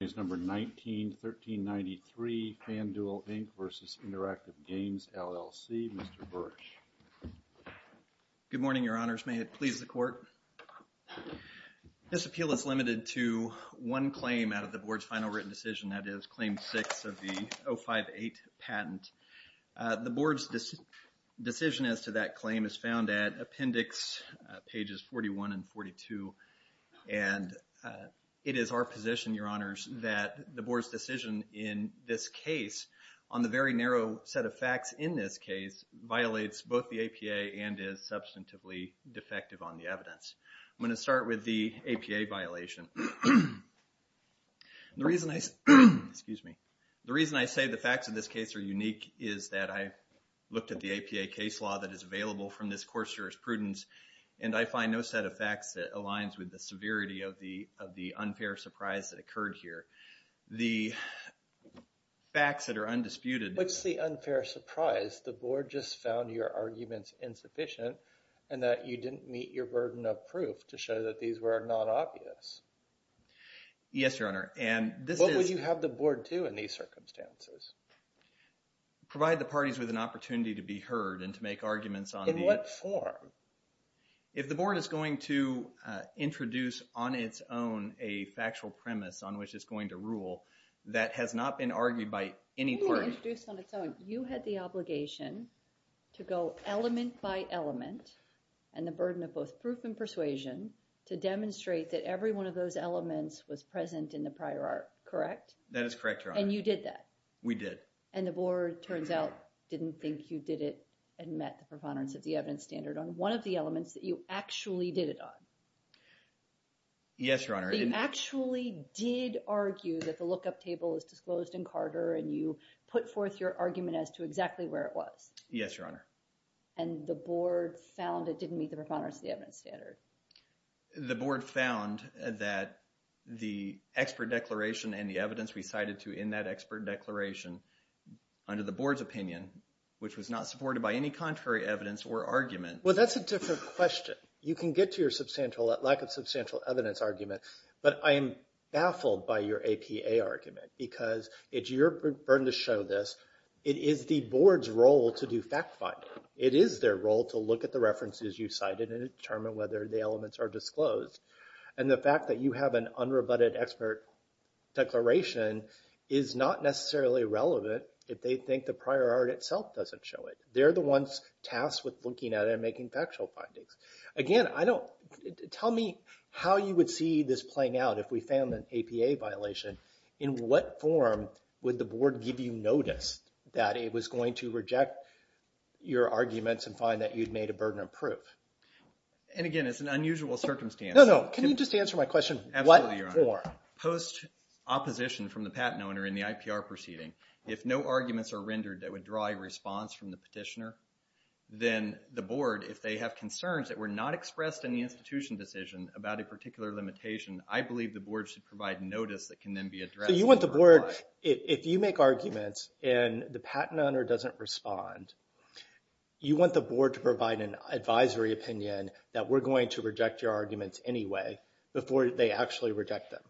Good morning, Your Honors. May it please the Court. This appeal is limited to one claim out of the Board's final written decision, that is, Claim 6 of the 058 patent. The Board's decision as to that claim is found at Appendix pages 41 and 42, and it is our position, Your Honors, that the Board's decision in this case on the very narrow set of facts in this case violates both the APA and is substantively defective on the evidence. I'm going to start with the APA violation. The reason I say the facts of this case are unique is that I looked at the APA case law that is available from this Court's jurisprudence, and I find no set of facts that aligns with the severity of the unfair surprise that occurred here. The facts that are undisputed… What's the unfair surprise? The Board just found your arguments insufficient and that you didn't meet your burden of proof to show that these were not obvious. Yes, Your Honor, and this is… What would you have the Board do in these circumstances? Provide the parties with an opportunity to be heard and to make arguments on the… In what form? If the Board is going to introduce on its own a factual premise on which it's going to rule that has not been argued by any party… You didn't introduce on its own. You had the obligation to go element by element and the burden of both proof and persuasion to demonstrate that every one of those elements was present in the prior art, correct? That is correct, Your Honor. And you did that? We did. And the Board, turns out, didn't think you did it and met the preponderance of the evidence standard on one of the elements that you actually did it on. Yes, Your Honor. You actually did argue that the lookup table is disclosed in Carter and you put forth your argument as to exactly where it was. Yes, Your Honor. And the Board found it didn't meet the preponderance of the evidence standard. The Board found that the expert declaration and the evidence we cited to in that expert declaration under the Board's opinion, which was not supported by any contrary evidence or argument… Well, that's a different question. You can get to your lack of substantial evidence argument, but I am baffled by your APA argument because it's your burden to show this. It is the Board's role to do fact-finding. It is their role to look at the references you cited and determine whether the elements are disclosed. And the fact that you have an unrebutted expert declaration is not necessarily relevant if they think the prior art itself doesn't show it. They're the ones tasked with looking at it and making factual findings. Again, tell me how you would see this playing out if we found an APA violation. In what form would the Board give you notice that it was going to reject your arguments and find that you'd made a burden of proof? And again, it's an unusual circumstance. No, no. Can you just answer my question? What form? Absolutely, Your Honor. Post-opposition from the patent owner in the IPR proceeding, if no arguments are rendered that would draw a response from the petitioner, then the Board, if they have concerns that were not expressed in the institution decision about a particular limitation, I believe the Board should provide notice that can then be addressed. So you want the Board, if you make arguments and the patent owner doesn't respond, you want the Board to provide an advisory opinion that we're going to reject your arguments anyway before they actually reject them?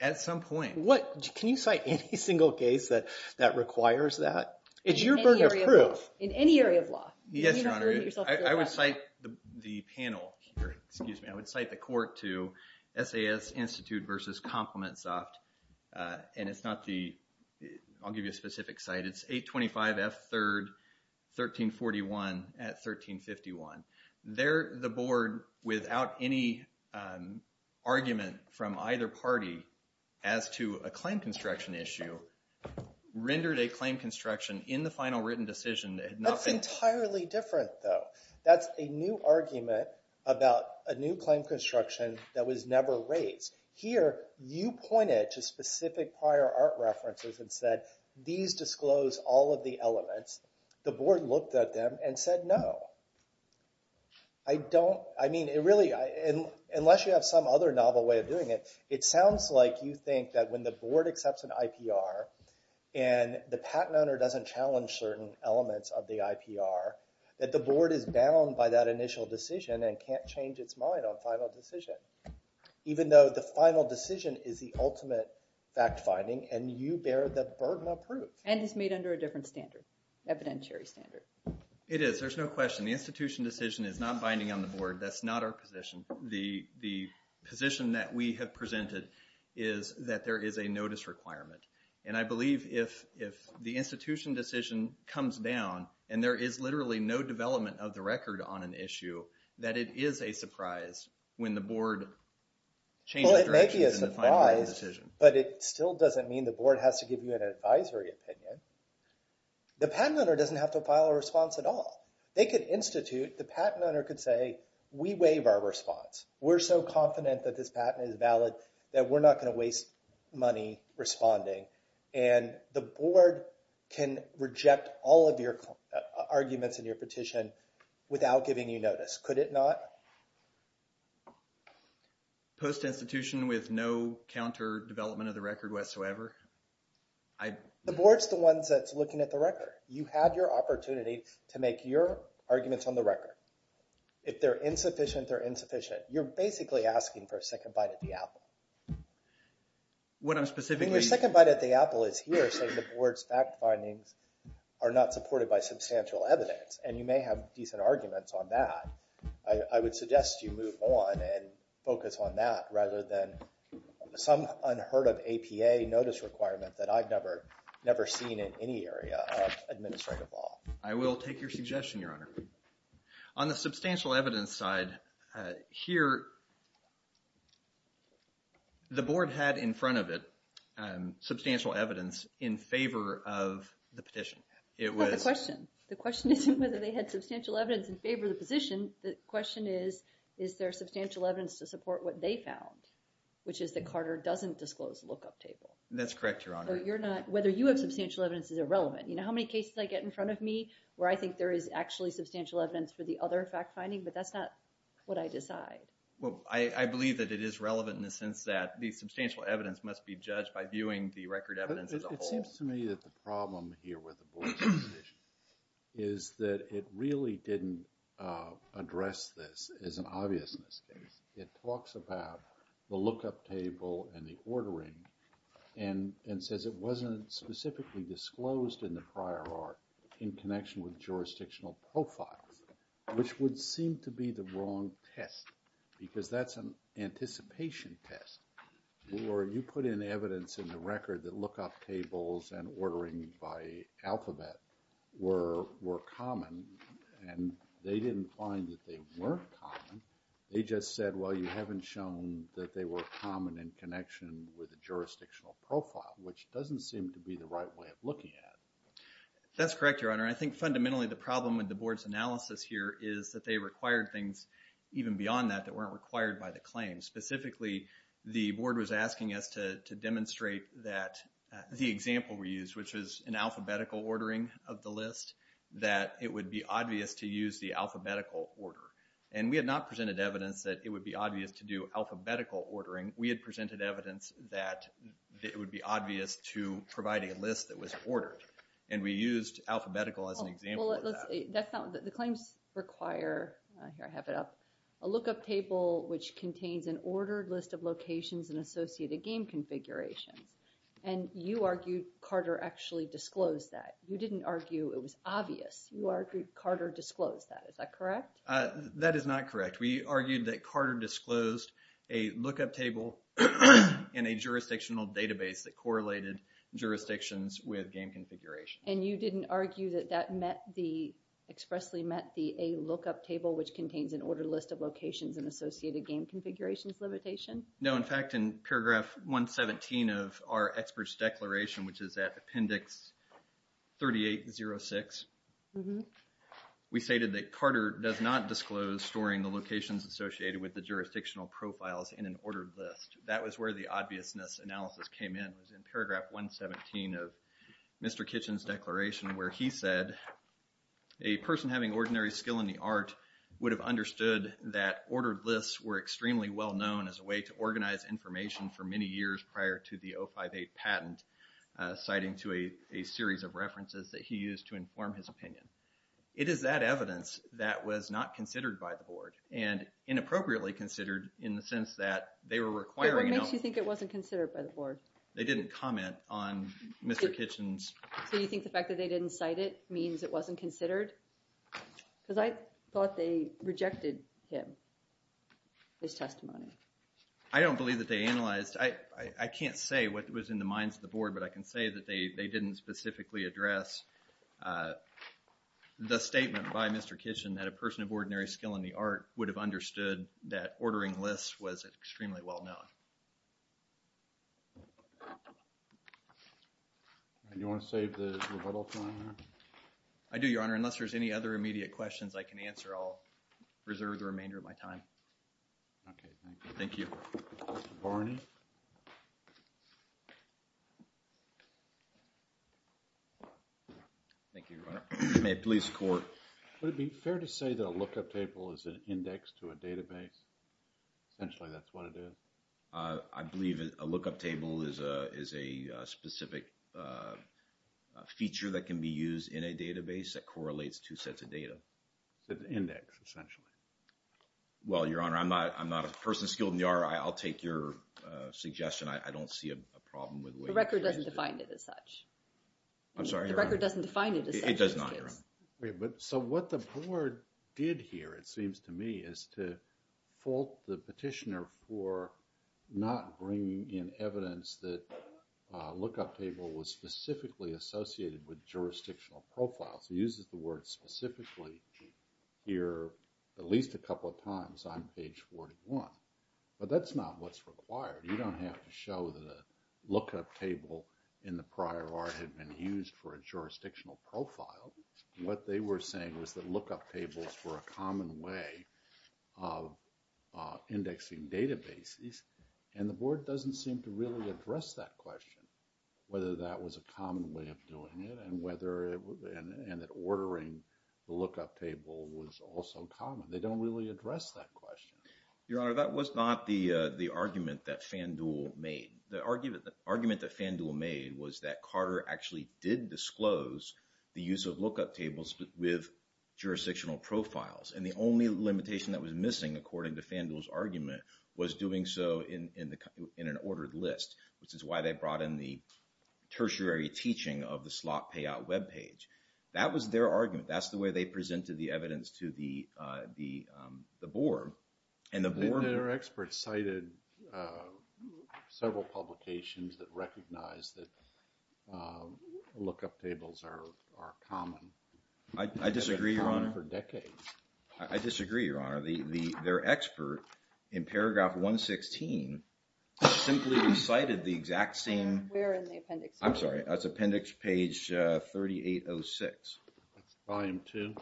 At some point. Can you cite any single case that requires that? It's your burden of proof. In any area of law. Yes, Your Honor. I would cite the panel here, excuse me. I would cite the court to SAS Institute versus ComplimentSoft, and it's not the, I'll give you a specific site. It's 825 F3rd 1341 at 1351. There, the Board, without any argument from either party as to a claim construction issue, rendered a claim construction in the final written decision. That's entirely different, though. That's a new argument about a new claim construction that was never raised. Here, you pointed to specific prior art references and said, these disclose all of the elements. The Board looked at them and said, no. I don't, I mean, it really, unless you have some other novel way of doing it, it sounds like you think that when the Board accepts an IPR and the patent owner doesn't challenge certain elements of the IPR, that the Board is bound by that initial decision and can't change its mind on final decision. Even though the final decision is the ultimate fact finding, and you bear the burden of proof. And it's made under a different standard, evidentiary standard. It is. There's no question. The institution decision is not binding on the Board. That's not our position. The position that we have presented is that there is a notice requirement. And I believe if the institution decision comes down, and there is literally no development of the record on an issue, that it is a surprise when the Board changes direction in the final written decision. Well, it may be a surprise, but it still doesn't mean the Board has to give you an advisory opinion. The patent owner doesn't have to file a response at all. They could institute, the patent owner could say, we waive our response. We're so confident that this patent is valid that we're not going to waste money responding. And the Board can reject all of your arguments in your petition without giving you notice. Could it not? Post-institution with no counter development of the record whatsoever? You had your opportunity to make your arguments on the record. If they're insufficient, they're insufficient. You're basically asking for a second bite at the apple. Your second bite at the apple is here saying the Board's fact findings are not supported by substantial evidence. And you may have decent arguments on that. I would suggest you move on and focus on that rather than some unheard of APA notice requirement that I've never seen in any area of administrative law. I will take your suggestion, Your Honor. On the substantial evidence side, here, the Board had in front of it substantial evidence in favor of the petition. The question isn't whether they had substantial evidence in favor of the position. The question is, is there substantial evidence to support what they found, which is that Carter doesn't disclose the lookup table. That's correct, Your Honor. Whether you have substantial evidence is irrelevant. You know how many cases I get in front of me where I think there is actually substantial evidence for the other fact finding, but that's not what I decide. Well, I believe that it is relevant in the sense that the substantial evidence must be judged by viewing the record evidence as a whole. It seems to me that the problem here with the Board's position is that it really didn't address this as an obvious mistake. It talks about the lookup table and the ordering and says it wasn't specifically disclosed in the prior art in connection with jurisdictional profiles, which would seem to be the wrong test because that's an anticipation test. Or you put in evidence in the record that lookup tables and ordering by alphabet were common, and they didn't find that they weren't common. They just said, well, you haven't shown that they were common in connection with the jurisdictional profile, which doesn't seem to be the right way of looking at it. That's correct, Your Honor. I think fundamentally the problem with the Board's analysis here is that they required things even beyond that that weren't required by the claim. Specifically, the Board was asking us to demonstrate that the example we used, which is an alphabetical ordering of the list, that it would be obvious to use the alphabetical order. And we had not presented evidence that it would be obvious to do alphabetical ordering. We had presented evidence that it would be obvious to provide a list that was ordered. And we used alphabetical as an example of that. The claims require, here I have it up, a lookup table which contains an ordered list of locations and associated game configurations. And you argued Carter actually disclosed that. You didn't argue it was obvious. You argued Carter disclosed that. Is that correct? That is not correct. We argued that Carter disclosed a lookup table in a jurisdictional database that correlated jurisdictions with game configurations. And you didn't argue that that met the, expressly met the A lookup table, which contains an ordered list of locations and associated game configurations limitation? No, in fact, in paragraph 117 of our experts' declaration, which is at appendix 3806, we stated that Carter does not disclose storing the locations associated with the jurisdictional profiles in an ordered list. That was where the obviousness analysis came in. It was in paragraph 117 of Mr. Kitchen's declaration where he said, a person having ordinary skill in the art would have understood that ordered lists were extremely well known as a way to organize information for many years prior to the 058 patent, citing to a series of references that he used to inform his opinion. It is that evidence that was not considered by the board and inappropriately considered in the sense that they were requiring. What makes you think it wasn't considered by the board? They didn't comment on Mr. Kitchen's. So you think the fact that they didn't cite it means it wasn't considered? Because I thought they rejected him, his testimony. I don't believe that they analyzed. I can't say what was in the minds of the board, but I can say that they didn't specifically address the statement by Mr. Kitchen that a person of ordinary skill in the art would have understood that ordering lists was extremely well known. And you want to save the rebuttal time there? I do, Your Honor. Unless there's any other immediate questions I can answer, I'll reserve the remainder of my time. Okay, thank you. Thank you. Mr. Barney. Thank you, Your Honor. May it please the court. Would it be fair to say that a lookup table is an index to a database? Essentially, that's what it is. I believe a lookup table is a specific feature that can be used in a database that correlates two sets of data. It's an index, essentially. Well, Your Honor, I'm not a person skilled in the art. I'll take your suggestion. I don't see a problem with the way it's used. The record doesn't define it as such. I'm sorry, Your Honor. The record doesn't define it as such. It does not, Your Honor. So what the board did here, it seems to me, is to fault the petitioner for not bringing in evidence that a lookup table was specifically associated with jurisdictional profiles. It uses the word specifically here at least a couple of times on page 41. But that's not what's required. You don't have to show that a lookup table in the prior art had been used for a jurisdictional profile. What they were saying was that lookup tables were a common way of indexing databases. And the board doesn't seem to really address that question, whether that was a common way of doing it and that ordering the lookup table was also common. They don't really address that question. Your Honor, that was not the argument that FanDuel made. The argument that FanDuel made was that Carter actually did disclose the use of lookup tables with jurisdictional profiles. And the only limitation that was missing, according to FanDuel's argument, was doing so in an ordered list, which is why they brought in the tertiary teaching of the slot payout webpage. That was their argument. That's the way they presented the evidence to the board. And the board... Their experts cited several publications that recognize that lookup tables are common. I disagree, Your Honor. For decades. I disagree, Your Honor. Their expert in paragraph 116 simply recited the exact same... Where in the appendix? I'm sorry. It's appendix page 3806. Volume 2.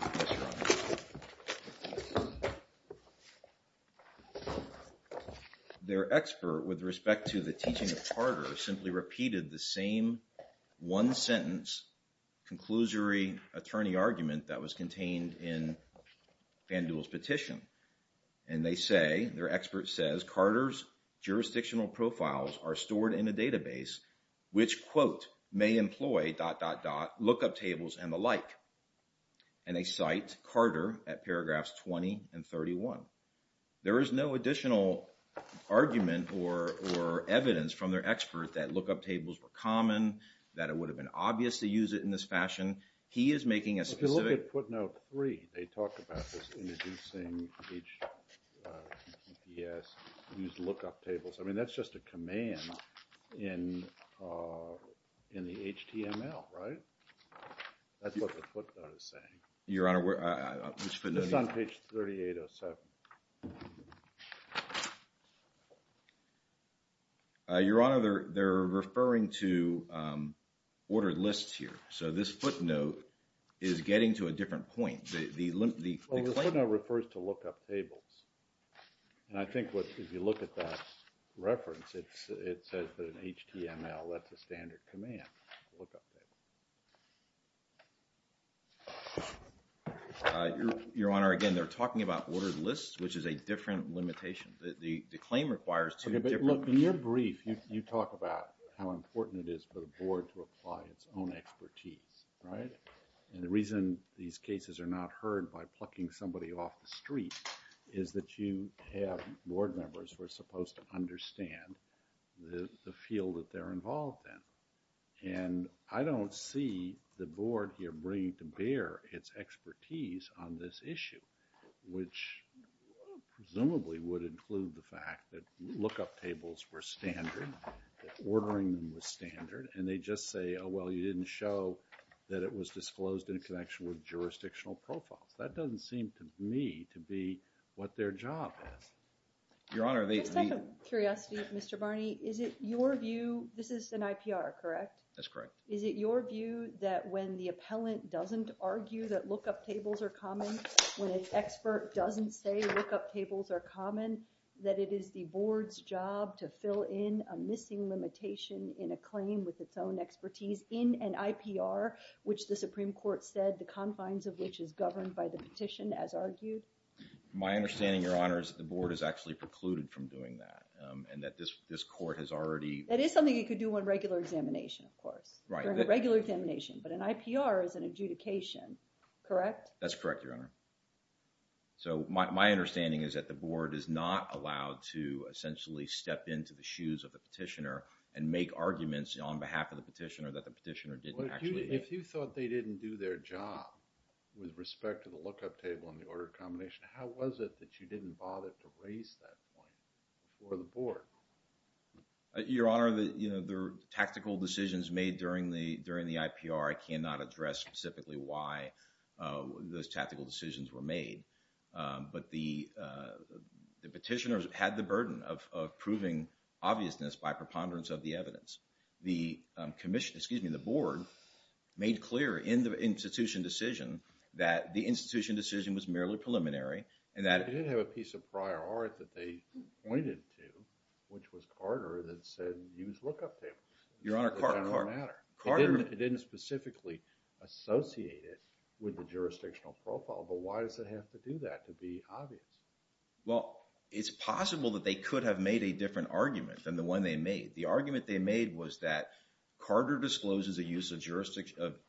Yes, Your Honor. Their expert, with respect to the teaching of Carter, simply repeated the same one-sentence, conclusory attorney argument that was contained in FanDuel's petition. And they say, their expert says, Carter's jurisdictional profiles are stored in a database which, quote, may employ dot dot dot lookup tables and the like. And they cite Carter at paragraphs 20 and 31. There is no additional argument or evidence from their expert that lookup tables were common, that it would have been obvious to use it in this fashion. He is making a specific... Yes. Use lookup tables. I mean, that's just a command in the HTML, right? That's what the footnote is saying. Your Honor, which footnote? It's on page 3807. Your Honor, they're referring to ordered lists here. So this footnote is getting to a different point. The footnote refers to lookup tables. And I think if you look at that reference, it says that in HTML, that's a standard command, lookup tables. Your Honor, again, they're talking about ordered lists, which is a different limitation. The claim requires two different... Okay, but look, in your brief, you talk about how important it is for the board to apply its own expertise, right? And the reason these cases are not heard by plucking somebody off the street is that you have board members who are supposed to understand the field that they're involved in. And I don't see the board here bringing to bear its expertise on this issue, which presumably would include the fact that lookup tables were standard, that ordering them was standard. And they just say, oh, well, you didn't show that it was disclosed in connection with jurisdictional profiles. That doesn't seem to me to be what their job is. Your Honor, they... Just out of curiosity, Mr. Barney, is it your view, this is an IPR, correct? That's correct. Is it your view that when the appellant doesn't argue that lookup tables are common, when an expert doesn't say lookup tables are common, that it is the board's job to fill in a missing limitation in a claim with its own expertise in an IPR, which the Supreme Court said the confines of which is governed by the petition as argued? My understanding, Your Honor, is that the board has actually precluded from doing that and that this court has already... That is something you could do on regular examination, of course. Right. Regular examination, but an IPR is an adjudication, correct? That's correct, Your Honor. So, my understanding is that the board is not allowed to essentially step into the shoes of the petitioner and make arguments on behalf of the petitioner that the petitioner didn't actually... If you thought they didn't do their job with respect to the lookup table and the order combination, how was it that you didn't bother to raise that point before the board? Your Honor, the tactical decisions made during the IPR, I cannot address specifically why those tactical decisions were made. But the petitioners had the burden of proving obviousness by preponderance of the evidence. The commission, excuse me, the board made clear in the institution decision that the institution decision was merely preliminary and that... The use of prior art that they pointed to, which was Carter, that said, use lookup tables. Your Honor, Carter... It didn't matter. Carter... It didn't specifically associate it with the jurisdictional profile, but why does it have to do that to be obvious? Well, it's possible that they could have made a different argument than the one they made. The argument they made was that Carter discloses the use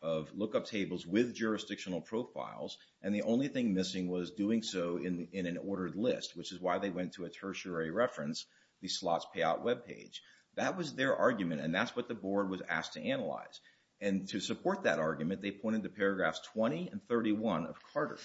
of lookup tables with jurisdictional profiles. And the only thing missing was doing so in an ordered list, which is why they went to a tertiary reference, the slots payout webpage. That was their argument, and that's what the board was asked to analyze. And to support that argument, they pointed to paragraphs 20 and 31 of Carter.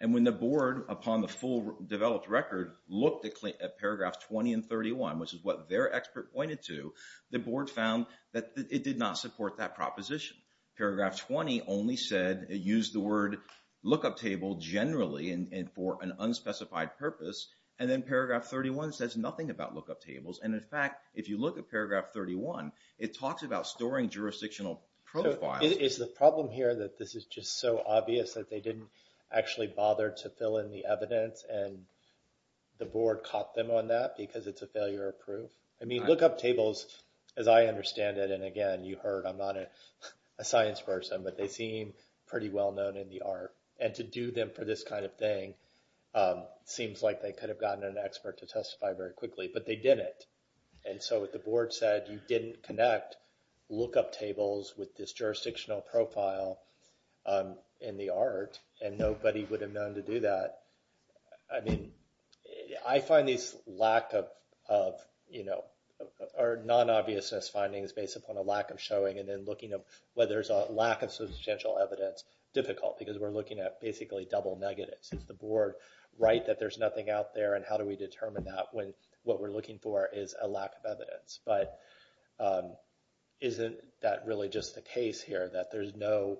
And when the board, upon the full developed record, looked at paragraph 20 and 31, which is what their expert pointed to, the board found that it did not support that proposition. Paragraph 20 only said, it used the word lookup table generally and for an unspecified purpose. And then paragraph 31 says nothing about lookup tables. And in fact, if you look at paragraph 31, it talks about storing jurisdictional profiles. Is the problem here that this is just so obvious that they didn't actually bother to fill in the evidence and the board caught them on that because it's a failure of proof? I mean, lookup tables, as I understand it, and again, you heard, I'm not a science person, but they seem pretty well known in the art. And to do them for this kind of thing seems like they could have gotten an expert to testify very quickly, but they didn't. And so what the board said, you didn't connect lookup tables with this jurisdictional profile in the art, and nobody would have known to do that. I mean, I find these lack of, you know, or non-obviousness findings based upon a lack of showing and then looking at whether there's a lack of substantial evidence difficult because we're looking at basically double negatives. Is the board right that there's nothing out there and how do we determine that when what we're looking for is a lack of evidence? But isn't that really just the case here that there's no,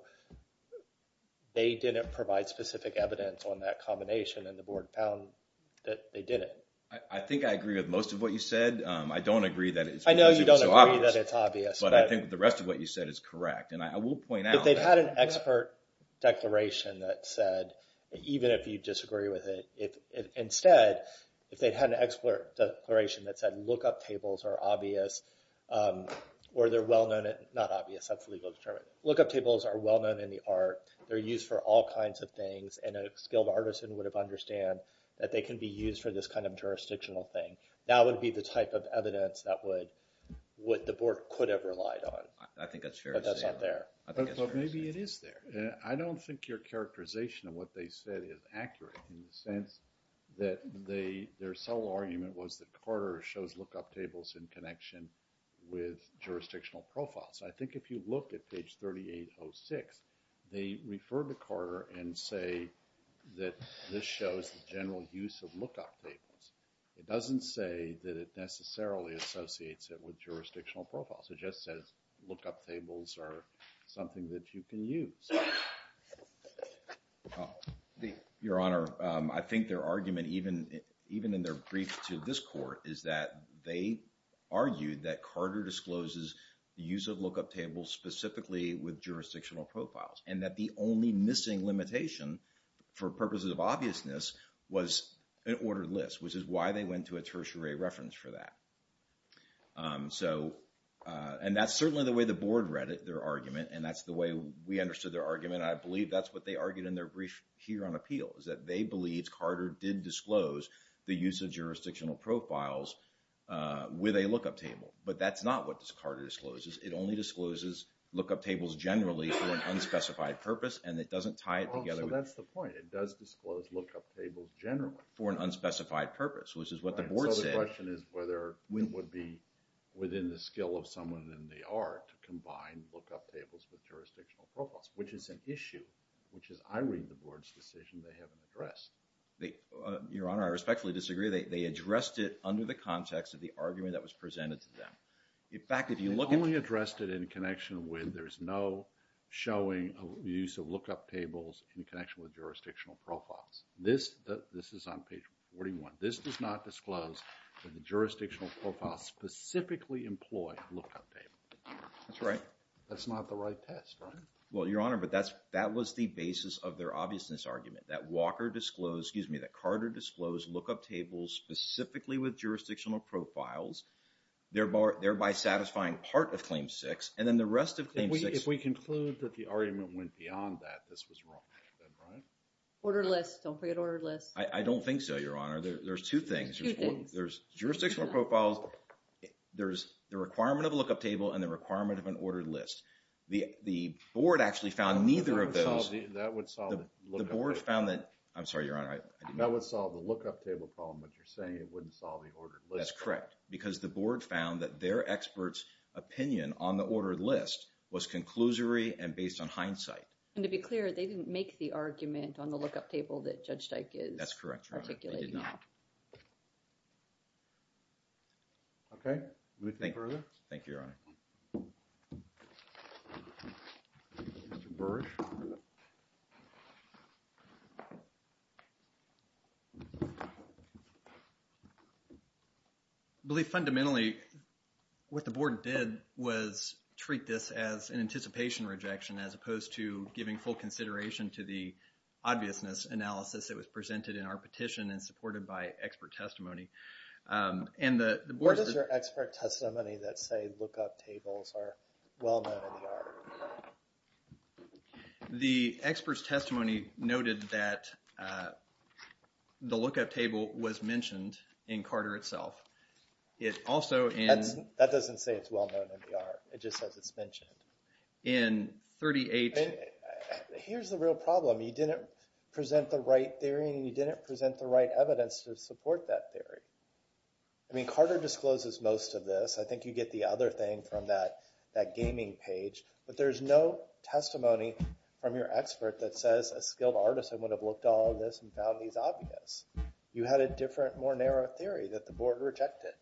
they didn't provide specific evidence on that combination and the board found that they didn't? I think I agree with most of what you said. I don't agree that it's so obvious. I know you don't agree that it's obvious. But I think the rest of what you said is correct. If they'd had an expert declaration that said, even if you disagree with it, if instead, if they'd had an expert declaration that said lookup tables are obvious, or they're well-known, not obvious, that's legally determined. Lookup tables are well-known in the art. They're used for all kinds of things, and a skilled artisan would have understand that they can be used for this kind of jurisdictional thing. That would be the type of evidence that would, what the board could have relied on. I think that's fair to say. But that's not there. Maybe it is there. I don't think your characterization of what they said is accurate in the sense that their sole argument was that Carter shows lookup tables in connection with jurisdictional profiles. I think if you look at page 3806, they refer to Carter and say that this shows the general use of lookup tables. It doesn't say that it necessarily associates it with jurisdictional profiles. It just says lookup tables are something that you can use. Your Honor, I think their argument, even in their brief to this court, is that they argued that Carter discloses the use of lookup tables specifically with jurisdictional profiles, and that the only missing limitation for purposes of obviousness was an ordered list, which is why they went to a tertiary reference for that. So, and that's certainly the way the board read their argument, and that's the way we understood their argument. I believe that's what they argued in their brief here on appeal, is that they believe Carter did disclose the use of jurisdictional profiles with a lookup table. But that's not what Carter discloses. It only discloses lookup tables generally for an unspecified purpose, and it doesn't tie it together. Oh, so that's the point. It does disclose lookup tables generally. For an unspecified purpose, which is what the board said. The question is whether it would be within the skill of someone than they are to combine lookup tables with jurisdictional profiles, which is an issue, which is I read the board's decision they haven't addressed. Your Honor, I respectfully disagree. They addressed it under the context of the argument that was presented to them. In fact, if you look at it. They only addressed it in connection with there's no showing of the use of lookup tables in connection with jurisdictional profiles. This is on page 41. This does not disclose that the jurisdictional profiles specifically employ lookup tables. That's right. That's not the right test, right? Well, Your Honor, but that was the basis of their obviousness argument. That Walker disclosed, excuse me, that Carter disclosed lookup tables specifically with jurisdictional profiles, thereby satisfying part of Claim 6. And then the rest of Claim 6. If we conclude that the argument went beyond that, this was wrong. Orderless. Don't forget orderless. I don't think so, Your Honor. There's two things. Two things. There's jurisdictional profiles. There's the requirement of a lookup table and the requirement of an ordered list. The board actually found neither of those. That would solve the lookup table. The board found that. I'm sorry, Your Honor. That would solve the lookup table problem, but you're saying it wouldn't solve the ordered list. That's correct. Because the board found that their experts' opinion on the ordered list was conclusory and based on hindsight. And to be clear, they didn't make the argument on the lookup table that Judge Dyke is articulating. That's correct, Your Honor. They did not. Okay. Thank you, Your Honor. Thank you, Mr. Burr. I believe fundamentally what the board did was treat this as an anticipation rejection as opposed to giving full consideration to the obviousness analysis that was presented in our petition and supported by expert testimony. Where does your expert testimony that say lookup tables are well known in the art? The expert's testimony noted that the lookup table was mentioned in Carter itself. That doesn't say it's well known in the art. It just says it's mentioned. In 38... Here's the real problem. You didn't present the right theory and you didn't present the right evidence to support that theory. I mean, Carter discloses most of this. I think you get the other thing from that gaming page. But there's no testimony from your expert that says a skilled artist would have looked at all of this and found these obvious. You had a different, more narrow theory that the board rejected,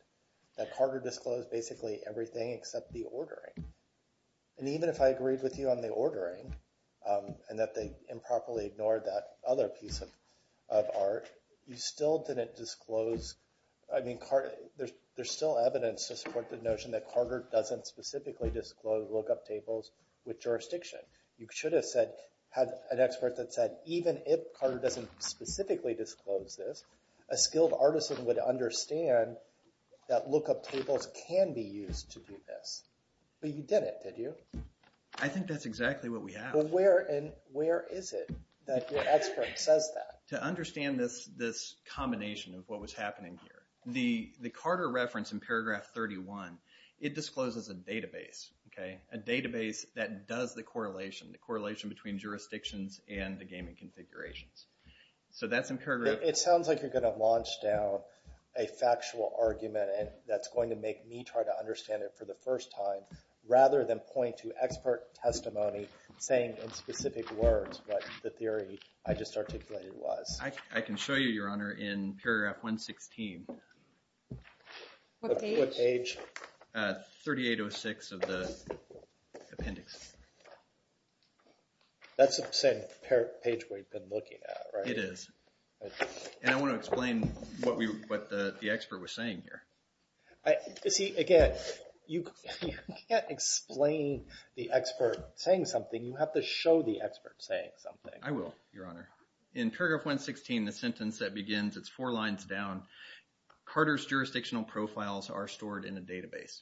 that Carter disclosed basically everything except the ordering. And even if I agreed with you on the ordering and that they improperly ignored that other piece of art, you still didn't disclose... I mean, there's still evidence to support the notion that Carter doesn't specifically disclose lookup tables with jurisdiction. You should have had an expert that said even if Carter doesn't specifically disclose this, a skilled artisan would understand that lookup tables can be used to do this. But you didn't, did you? I think that's exactly what we have. Well, where is it that your expert says that? To understand this combination of what was happening here, the Carter reference in paragraph 31, it discloses a database. A database that does the correlation, the correlation between jurisdictions and the gaming configurations. So that's in paragraph... It sounds like you're going to launch down a factual argument that's going to make me try to understand it for the first time rather than point to expert testimony saying in specific words what the theory I just articulated was. I can show you, Your Honor, in paragraph 116. What page? 3806 of the appendix. That's the same page we've been looking at, right? It is. And I want to explain what the expert was saying here. See, again, you can't explain the expert saying something. You have to show the expert saying something. I will, Your Honor. In paragraph 116, the sentence that begins, it's four lines down, Carter's jurisdictional profiles are stored in a database.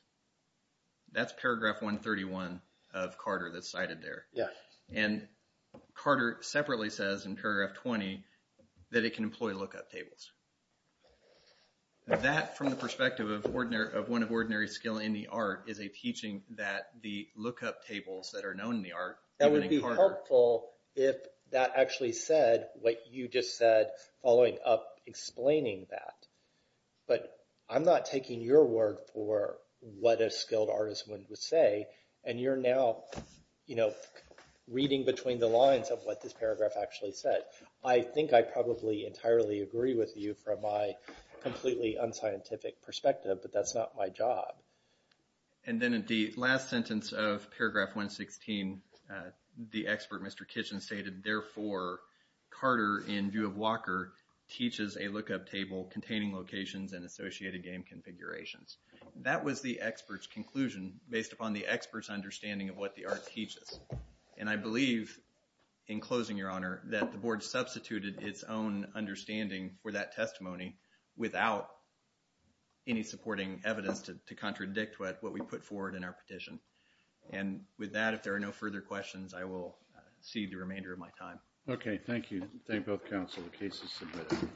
That's paragraph 131 of Carter that's cited there. Yeah. And Carter separately says in paragraph 20 that it can employ lookup tables. That, from the perspective of one of ordinary skill in the art, is a teaching that the lookup tables that are known in the art... reading between the lines of what this paragraph actually said. I think I probably entirely agree with you from my completely unscientific perspective, but that's not my job. And then at the last sentence of paragraph 116, the expert, Mr. Kitchen, stated, Therefore, Carter, in view of Walker, teaches a lookup table containing locations and associated game configurations. That was the expert's conclusion based upon the expert's understanding of what the art teaches. And I believe, in closing, Your Honor, that the board substituted its own understanding for that testimony without any supporting evidence to contradict what we put forward in our petition. And with that, if there are no further questions, I will cede the remainder of my time. Okay. Thank you. Thank both counsel. The case is submitted.